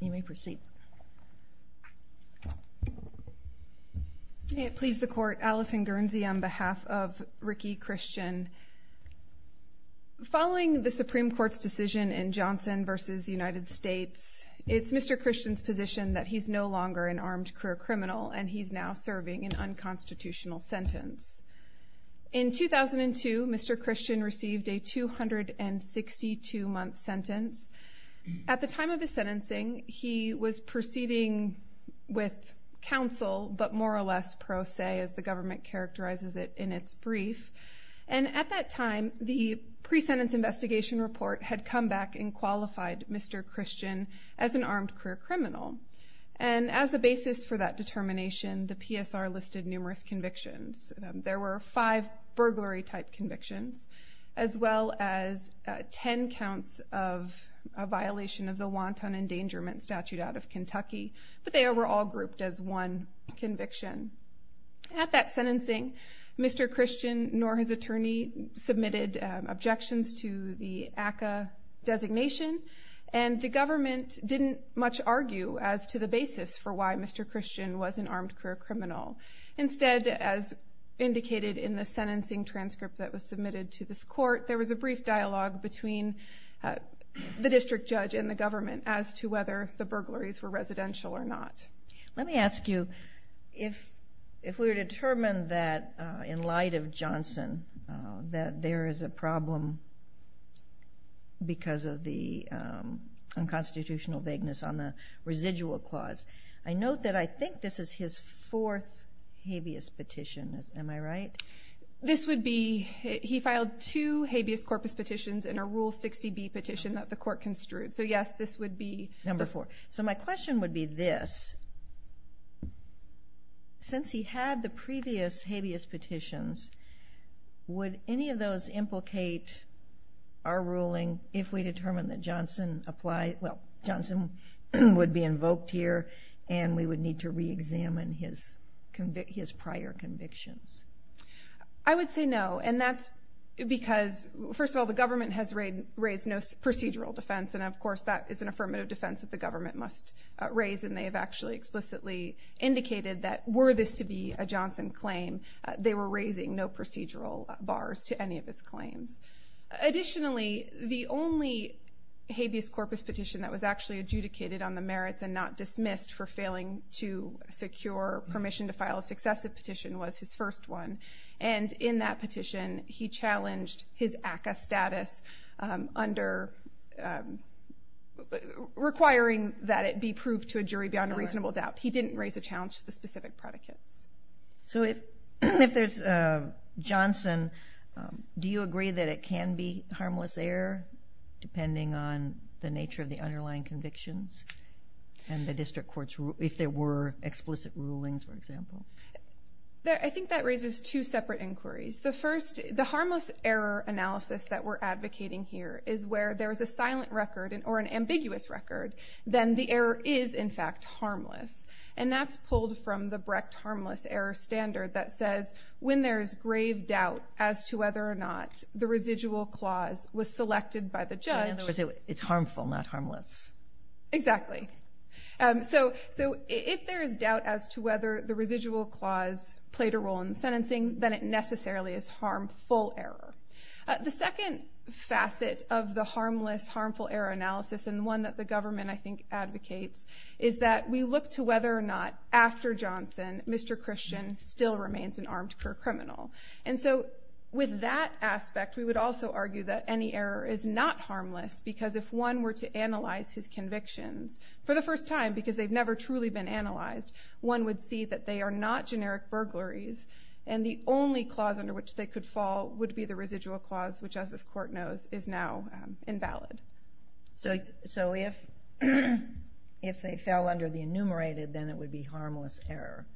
You may proceed. May it please the court, Allison Guernsey on behalf of Rickey Christian. Following the Supreme Court's decision in Johnson v. United States, it's Mr. Christian's position that he's no longer an armed career criminal and he's now serving an unconstitutional sentence. In 2002, Mr. Christian received a 262-month sentence. At the time of his sentencing, he was proceeding with counsel, but more or less pro se, as the government characterizes it in its brief. And at that time, the pre-sentence investigation report had come back and qualified Mr. Christian as an armed career criminal. And as a basis for that determination, the PSR listed numerous convictions. There were five burglary type convictions, as well as 10 counts of a violation of the wanton endangerment statute out of Kentucky, but they were all grouped as one conviction. At that sentencing, Mr. Christian, nor his attorney, submitted objections to the ACCA designation, and the government didn't much argue as to the basis for why Mr. Christian was an armed career criminal. Instead, as indicated in the transcript that was submitted to this court, there was a brief dialogue between the district judge and the government as to whether the burglaries were residential or not. Let me ask you, if we're determined that, in light of Johnson, that there is a problem because of the unconstitutional vagueness on the residual clause, I note that I think this is his fourth habeas petition. Am I right? This would be, he filed two habeas corpus petitions in a Rule 60B petition that the court construed. So yes, this would be number four. So my question would be this, since he had the previous habeas petitions, would any of those implicate our ruling if we determine that Johnson applied, well, Johnson would be invoked here, and we would need to re-examine his prior convictions? I would say no, and that's because, first of all, the government has raised no procedural defense, and of course that is an affirmative defense that the government must raise, and they have actually explicitly indicated that were this to be a Johnson claim, they were raising no procedural bars to any of his claims. Additionally, the only habeas corpus petition that was actually adjudicated on the merits and not dismissed for failing to secure permission to file a successive petition was his first one, and in that petition he challenged his ACCA status under, requiring that it be proved to a jury beyond a reasonable doubt. He didn't raise a challenge to the specific predicates. So if there's a Johnson, do you agree that it can be harmless error, for example? I think that raises two separate inquiries. The first, the harmless error analysis that we're advocating here is where there is a silent record or an ambiguous record, then the error is, in fact, harmless, and that's pulled from the Brecht harmless error standard that says when there is grave doubt as to whether or not the residual clause was selected by the judge. In other words, it's harmful, not harmless. Exactly. So if there is doubt as to whether the residual clause played a role in sentencing, then it necessarily is harmful error. The second facet of the harmless, harmful error analysis, and one that the government, I think, advocates, is that we look to whether or not after Johnson, Mr. Christian still remains an armed career criminal. And so with that aspect, we would also argue that any error is not harmless, because if one were to analyze his convictions for the first time, because they've never truly been analyzed, one would see that they are not generic burglaries, and the only clause under which they could fall would be the residual clause, which, as this court knows, is now invalid. So if they fell under the enumerated, then it would be harmless error.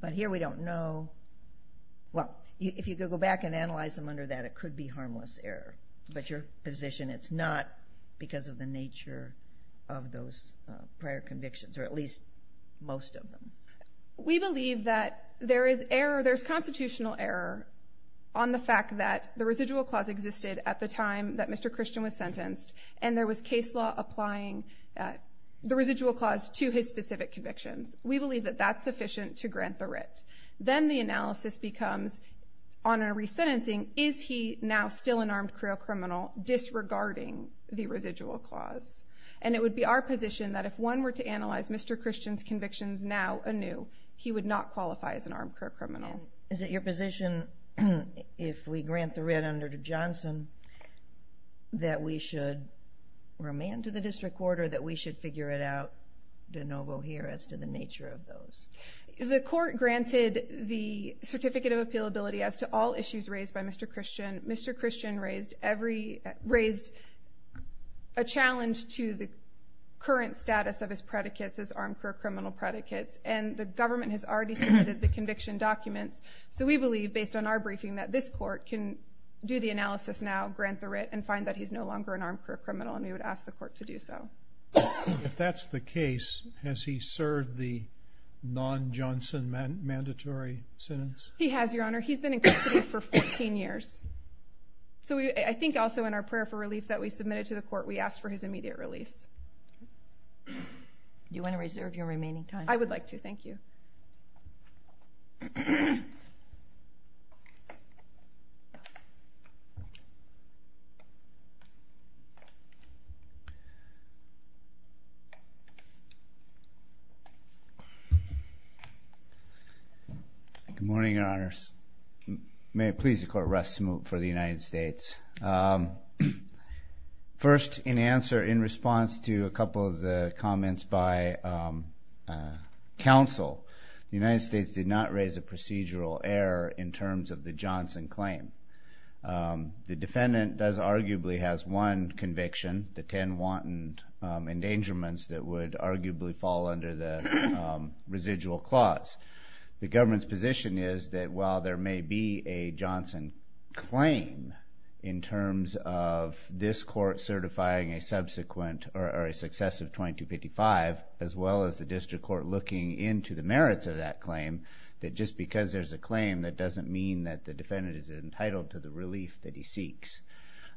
But here we don't know. Well, if you could go back and analyze them under that, it would be. But your position, it's not because of the nature of those prior convictions, or at least most of them. We believe that there is error, there's constitutional error on the fact that the residual clause existed at the time that Mr. Christian was sentenced, and there was case law applying the residual clause to his specific convictions. We believe that that's sufficient to grant the writ. Then the analysis becomes, on the contrary, a criminal disregarding the residual clause. And it would be our position that if one were to analyze Mr. Christian's convictions now anew, he would not qualify as an armed criminal. Is it your position, if we grant the writ under Johnson, that we should remand to the district court, or that we should figure it out de novo here as to the nature of those? The court granted the certificate of appealability as to all issues raised by Mr. Christian. Mr. Christian raised a challenge to the current status of his predicates as armed criminal predicates, and the government has already submitted the conviction documents. So we believe, based on our briefing, that this court can do the analysis now, grant the writ, and find that he's no longer an armed criminal, and we would ask the court to do so. If that's the case, has he served the non-Johnson mandatory sentence? He has, Your Honor. He's been in custody for 14 years. So I think also in our prayer for relief that we submitted to the court, we asked for his immediate release. Do you want to reserve your remaining time? I would like to, thank you. Good morning, Your Honors. May it please the court, rest for the United States. First, in answer, in response to a couple of the comments by counsel, the United States is a procedural error in terms of the Johnson claim. The defendant does arguably has one conviction, the 10 wanton endangerments that would arguably fall under the residual clause. The government's position is that while there may be a Johnson claim in terms of this court certifying a subsequent or a successive 2255, as well as the district court looking into the merits of that claim, just because there's a claim, that doesn't mean that the defendant is entitled to the relief that he seeks.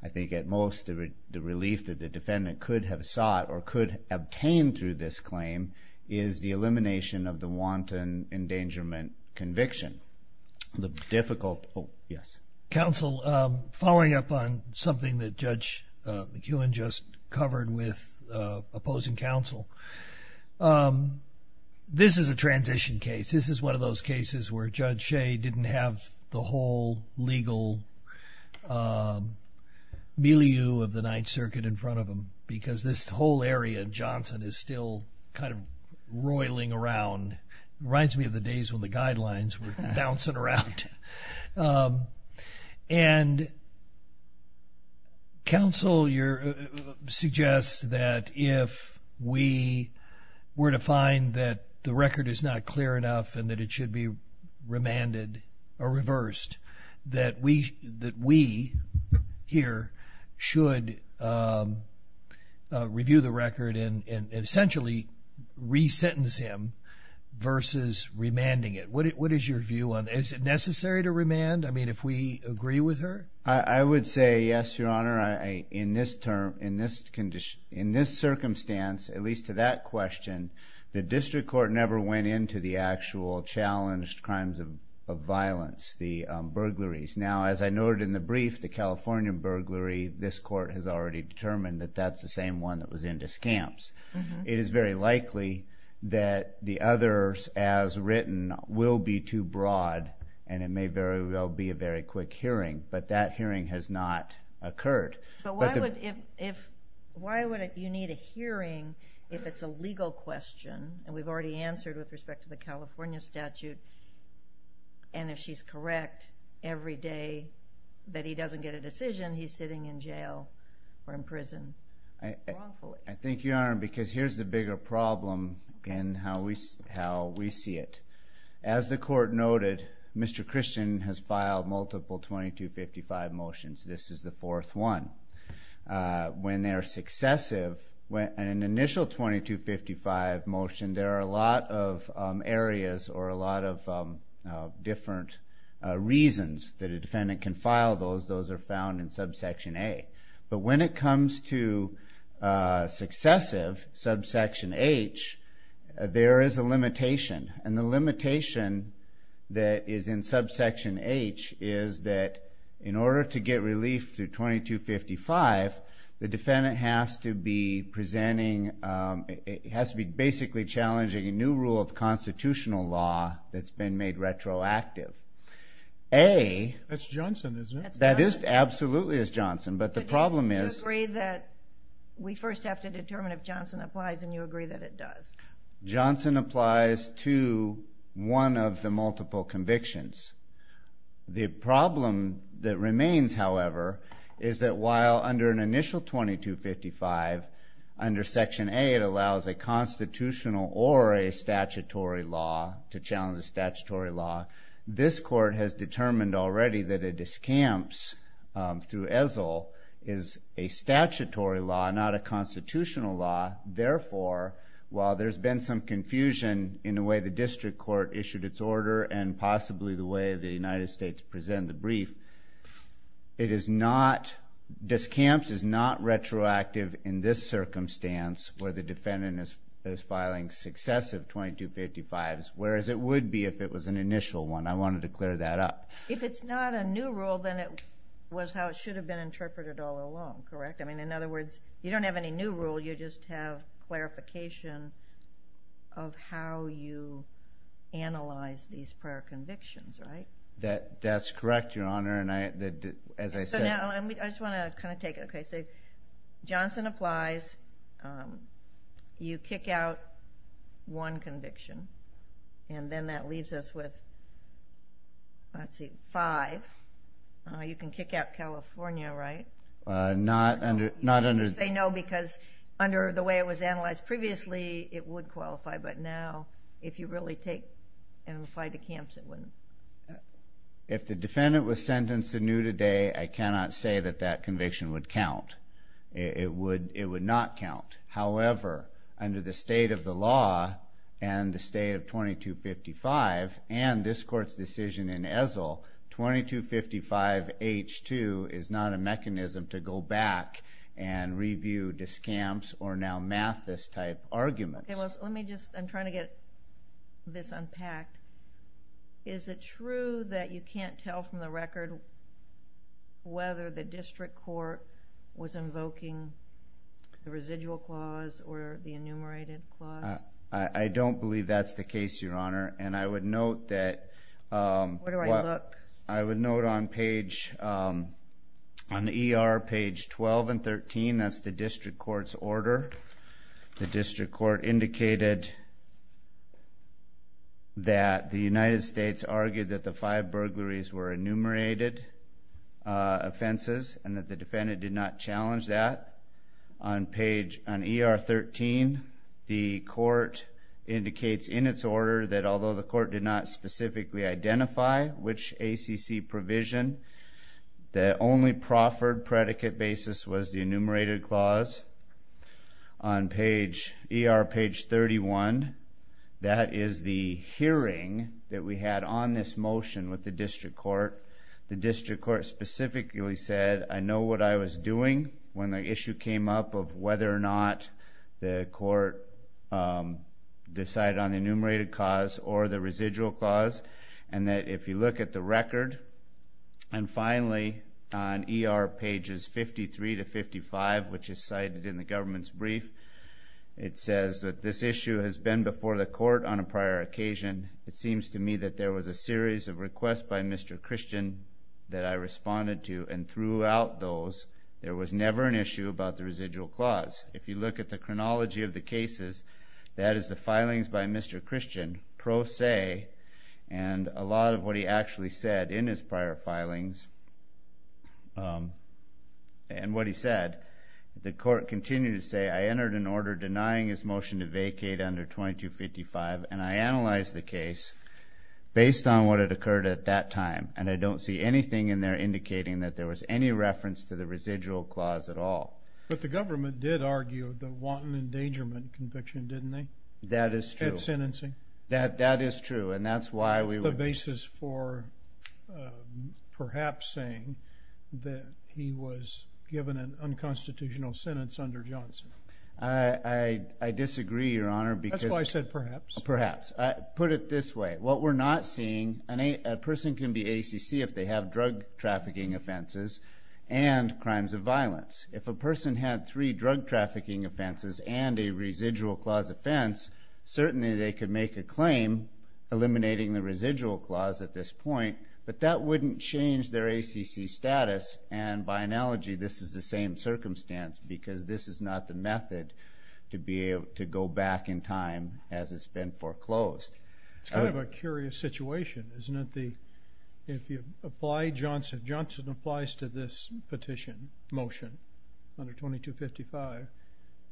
I think at most, the relief that the defendant could have sought or could obtain through this claim is the elimination of the wanton endangerment conviction. The difficult, oh, yes. Counsel, following up on something that Judge McEwen just covered with opposing counsel, this is a transition case. This is one of those cases where Judge Shea didn't have the whole legal milieu of the Ninth Circuit in front of him because this whole area of Johnson is still kind of roiling around. Reminds me of the days when the guidelines were bouncing around. And counsel suggests that if we were to find that the record is not clear enough and that it should be remanded or reversed, that we here should review the record and essentially re-sentence him versus remanding it. What is your view on that? Is it necessary to remand? I mean, if we agree with her? I would say, yes, Your Honor. In this circumstance, at least to that question, the district court never went into the actual challenged crimes of violence, the burglaries. Now, as I noted in the brief, the California burglary, this court has already determined that that's the same one that was in discamps. It is very likely that the others, as written, will be too broad and it may very well be a very quick hearing, but that hearing has not occurred. But why would you need a hearing if it's a legal question, and we've already answered with respect to the California statute, and if she's correct every day that he doesn't get a hearing or imprisoned wrongfully? I think, Your Honor, because here's the bigger problem in how we see it. As the court noted, Mr. Christian has filed multiple 2255 motions. This is the fourth one. When they're successive, an initial 2255 motion, there are a lot of areas or a lot of different reasons that a defendant can file those. Those are found in subsection A. But when it comes to successive, subsection H, there is a limitation, and the limitation that is in subsection H is that in order to get relief through 2255, the defendant has to be basically challenging a new rule of constitutional law that's been made retroactive. That's Johnson, isn't it? That absolutely is Johnson, but the problem is... You agree that we first have to determine if Johnson applies, and you agree that it does. Johnson applies to one of the multiple convictions. The problem that remains, however, is that while under an initial 2255, under a constitutional or a statutory law, to challenge a statutory law, this court has determined already that a discamps through ESL is a statutory law, not a constitutional law. Therefore, while there's been some confusion in the way the district court issued its order and possibly the way the United States presented the brief, discamps is not retroactive in this circumstance where the defendant is filing successive 2255s, whereas it would be if it was an initial one. I wanted to clear that up. If it's not a new rule, then it was how it should have been interpreted all along, correct? In other words, you don't have any new rule, you just have clarification of how you analyze these prior convictions, right? That's correct, Your Honor, and as I said... I just want to kind of take it. Johnson applies, you kick out one conviction, and then that leaves us with, let's see, five. You can kick out California, right? Not under... You say no because under the way it was analyzed previously, it would qualify, but now if you really take and apply to camps, it wouldn't. If the defendant was sentenced anew today, I cannot say that that conviction would count. It would not count. However, under the state of the law and the state of 2255 and this court's decision in Ezell, 2255H2 is not a mechanism to go back and review discamps or now math this type arguments. Let me just, I'm trying to get this unpacked. Is it true that you can't tell from the record whether the district court was invoking the residual clause or the enumerated clause? I don't believe that's the case, Your Honor, and I would note that... Where do I look? I would note on the ER page 12 and 13, that's the district court's decision that indicated that the United States argued that the five burglaries were enumerated offenses and that the defendant did not challenge that. On page, on ER 13, the court indicates in its order that although the court did not specifically identify which ACC provision, the only proffered predicate basis was the enumerated clause. On page, ER page 31, that is the hearing that we had on this motion with the district court. The district court specifically said, I know what I was doing when the issue came up of whether or not the court decided on the enumerated clause or the residual clause and that if you look at the record, and finally on ER pages 53 to 55, which is cited in the government's brief, it says that this issue has been before the court on a prior occasion. It seems to me that there was a series of requests by Mr. Christian that I responded to and throughout those, there was never an issue about the residual clause. If you look at the chronology of the cases, that is the filings by Mr. Christian, pro se, and a lot of what he actually said in his prior filings, and what he said, the court continued to say, I entered an order denying his motion to vacate under 2255, and I analyzed the case based on what had occurred at that time, and I don't see anything in there indicating that there was any reference to the residual clause at all. But the government did argue the wanton endangerment conviction, didn't they? That is true. At sentencing? That is true, and that's why we... That's the basis for perhaps saying that he was given an unconstitutional sentence under Johnson. I disagree, Your Honor, because... That's why I said perhaps. Perhaps. Put it this way. What we're not seeing, a person can be ACC if they have drug trafficking offenses and crimes of violence. If a person had three drug trafficking offenses and a residual clause offense, certainly they could make a claim eliminating the residual clause at this point, but that wouldn't change their ACC status, and by analogy, this is the same circumstance, because this is not the method to be able to go back in time as it's been foreclosed. It's kind of a curious situation, isn't it? If you apply Johnson... Johnson applies to this petition, motion, under 2255,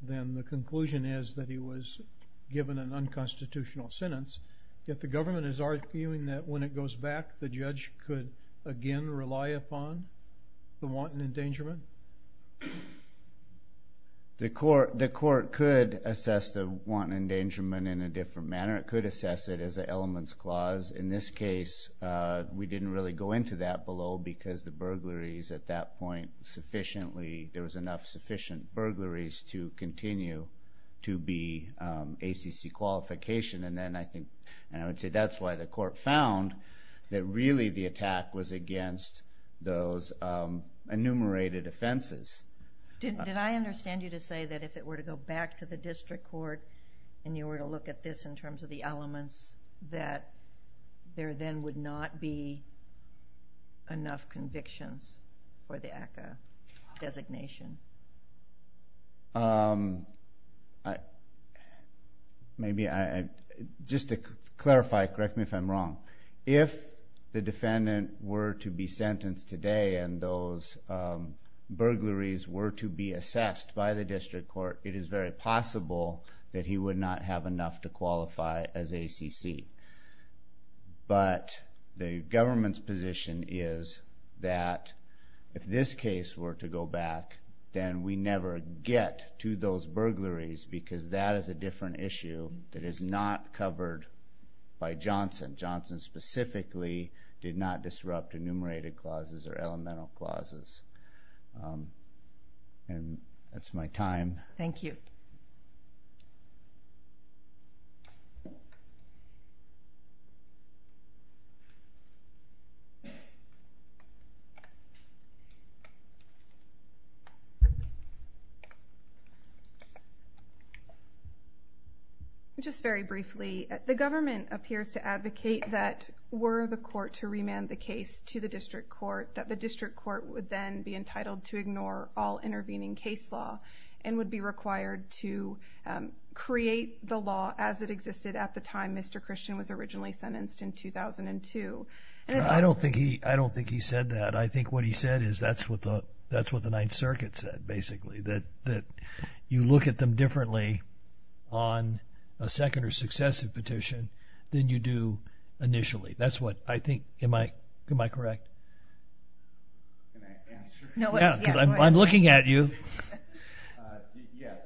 then the conclusion is that he was given an unconstitutional sentence, yet the government is arguing that when it goes back, the judge could again rely upon the wanton endangerment? The court could assess the wanton endangerment in a different manner. It could assess it as an elements clause. In this case, we didn't really go into that below, because the burglaries at that point, sufficiently, there was enough sufficient burglaries to continue to be ACC qualification, and then I think, and I would say that's why the court found that really the attack was against those enumerated offenses. Did I understand you to say that if it were to go back to the district court, and you were to look at this in terms of the elements, that there then would not be enough convictions for the ACCA designation? Maybe I... Just to clarify, correct me if I'm wrong. If the defendant were to be sentenced today, and those burglaries were to be assessed by the district court, it is very possible that he would not have enough to qualify as ACC. But the government's position is that if this case were to go back, then we never get to those burglaries, because that is a different issue that is not covered by Johnson. Johnson specifically did not disrupt enumerated clauses or elemental clauses. And that's my time. Thank you. Just very briefly, the government appears to advocate that were the court to remand the case to the district court, that the district court would then be entitled to ignore all intervening case law, and would be required to create the law as it existed at the time Mr. Christian was originally sentenced in 2002. I don't think he said that. I think what he said is that's what the Ninth Circuit said, basically, that you look at them differently on a second or successive petition than you do initially. That's what I think... Am I correct? Can I answer? Yeah, I'm looking at you. Yes.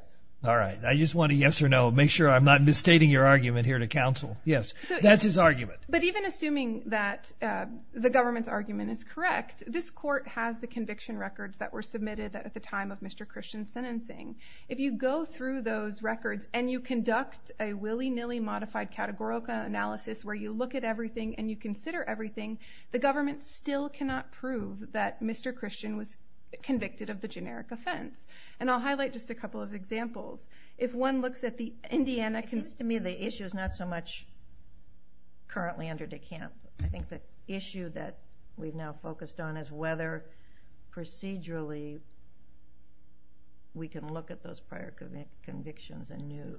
All right. I just want a yes or no. Make sure I'm not misstating your argument here to counsel. Yes. That's his argument. But even assuming that the government's argument is correct, this court has the conviction records that were submitted at the time of Mr. Christian's sentencing. If you go through those records and you conduct a willy nilly modified categorical analysis where you look at everything and you consider everything, the government still cannot prove that Mr. Christian was convicted of the generic offense. And I'll highlight just a couple of examples. If one looks at the Indiana... It seems to me the issue is not so much currently under DeKalb. I think the issue that we've now focused on is whether procedurally we can look at those prior convictions anew.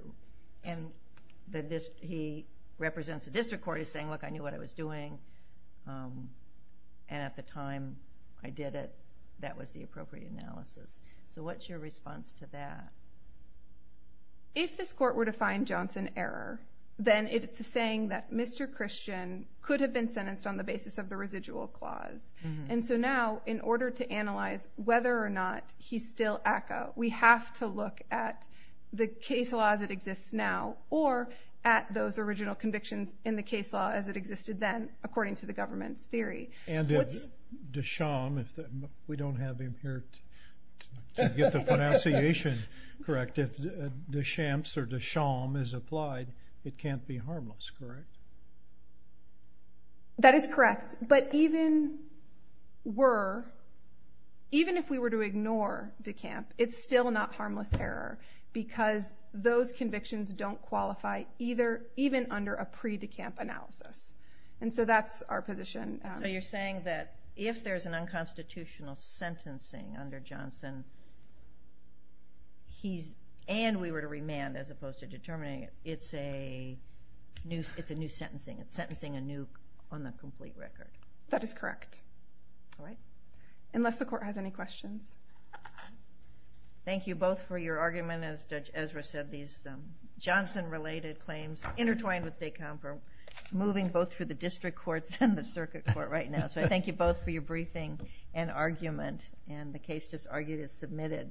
And he represents the district court, he's saying, look, I knew what I was doing, and at the time I did it, that was the appropriate analysis. So what's your response to that? If this court were to find Johnson error, then it's a saying that Mr. Christian could have been sentenced on the basis of the residual clause. And so now, in order to analyze whether or not he's still ACCA, we have to look at the case law as it exists now, or at those original convictions in the case law as it existed then, according to the government's theory. And if DeChamps, if... We don't have him here to get the pronunciation correct. If DeChamps or DeChamps is applied, it can't be harmless, correct? That is correct. But even were... Even if we were to ignore DeKalb, it's still not harmless error, because those convictions don't qualify even under a pre-DeKalb analysis. And so that's our position. So you're saying that if there's an unconstitutional sentencing under Johnson, and we were to remand as opposed to determining it, it's a new sentencing. It's sentencing a new... On the complete record. That is correct. Alright. Unless the court has any questions. Thank you both for your argument. As Judge Ezra said, these are... I'm trying to stay calm. We're moving both through the district courts and the circuit court right now. So I thank you both for your briefing and argument. And the case just argued is submitted.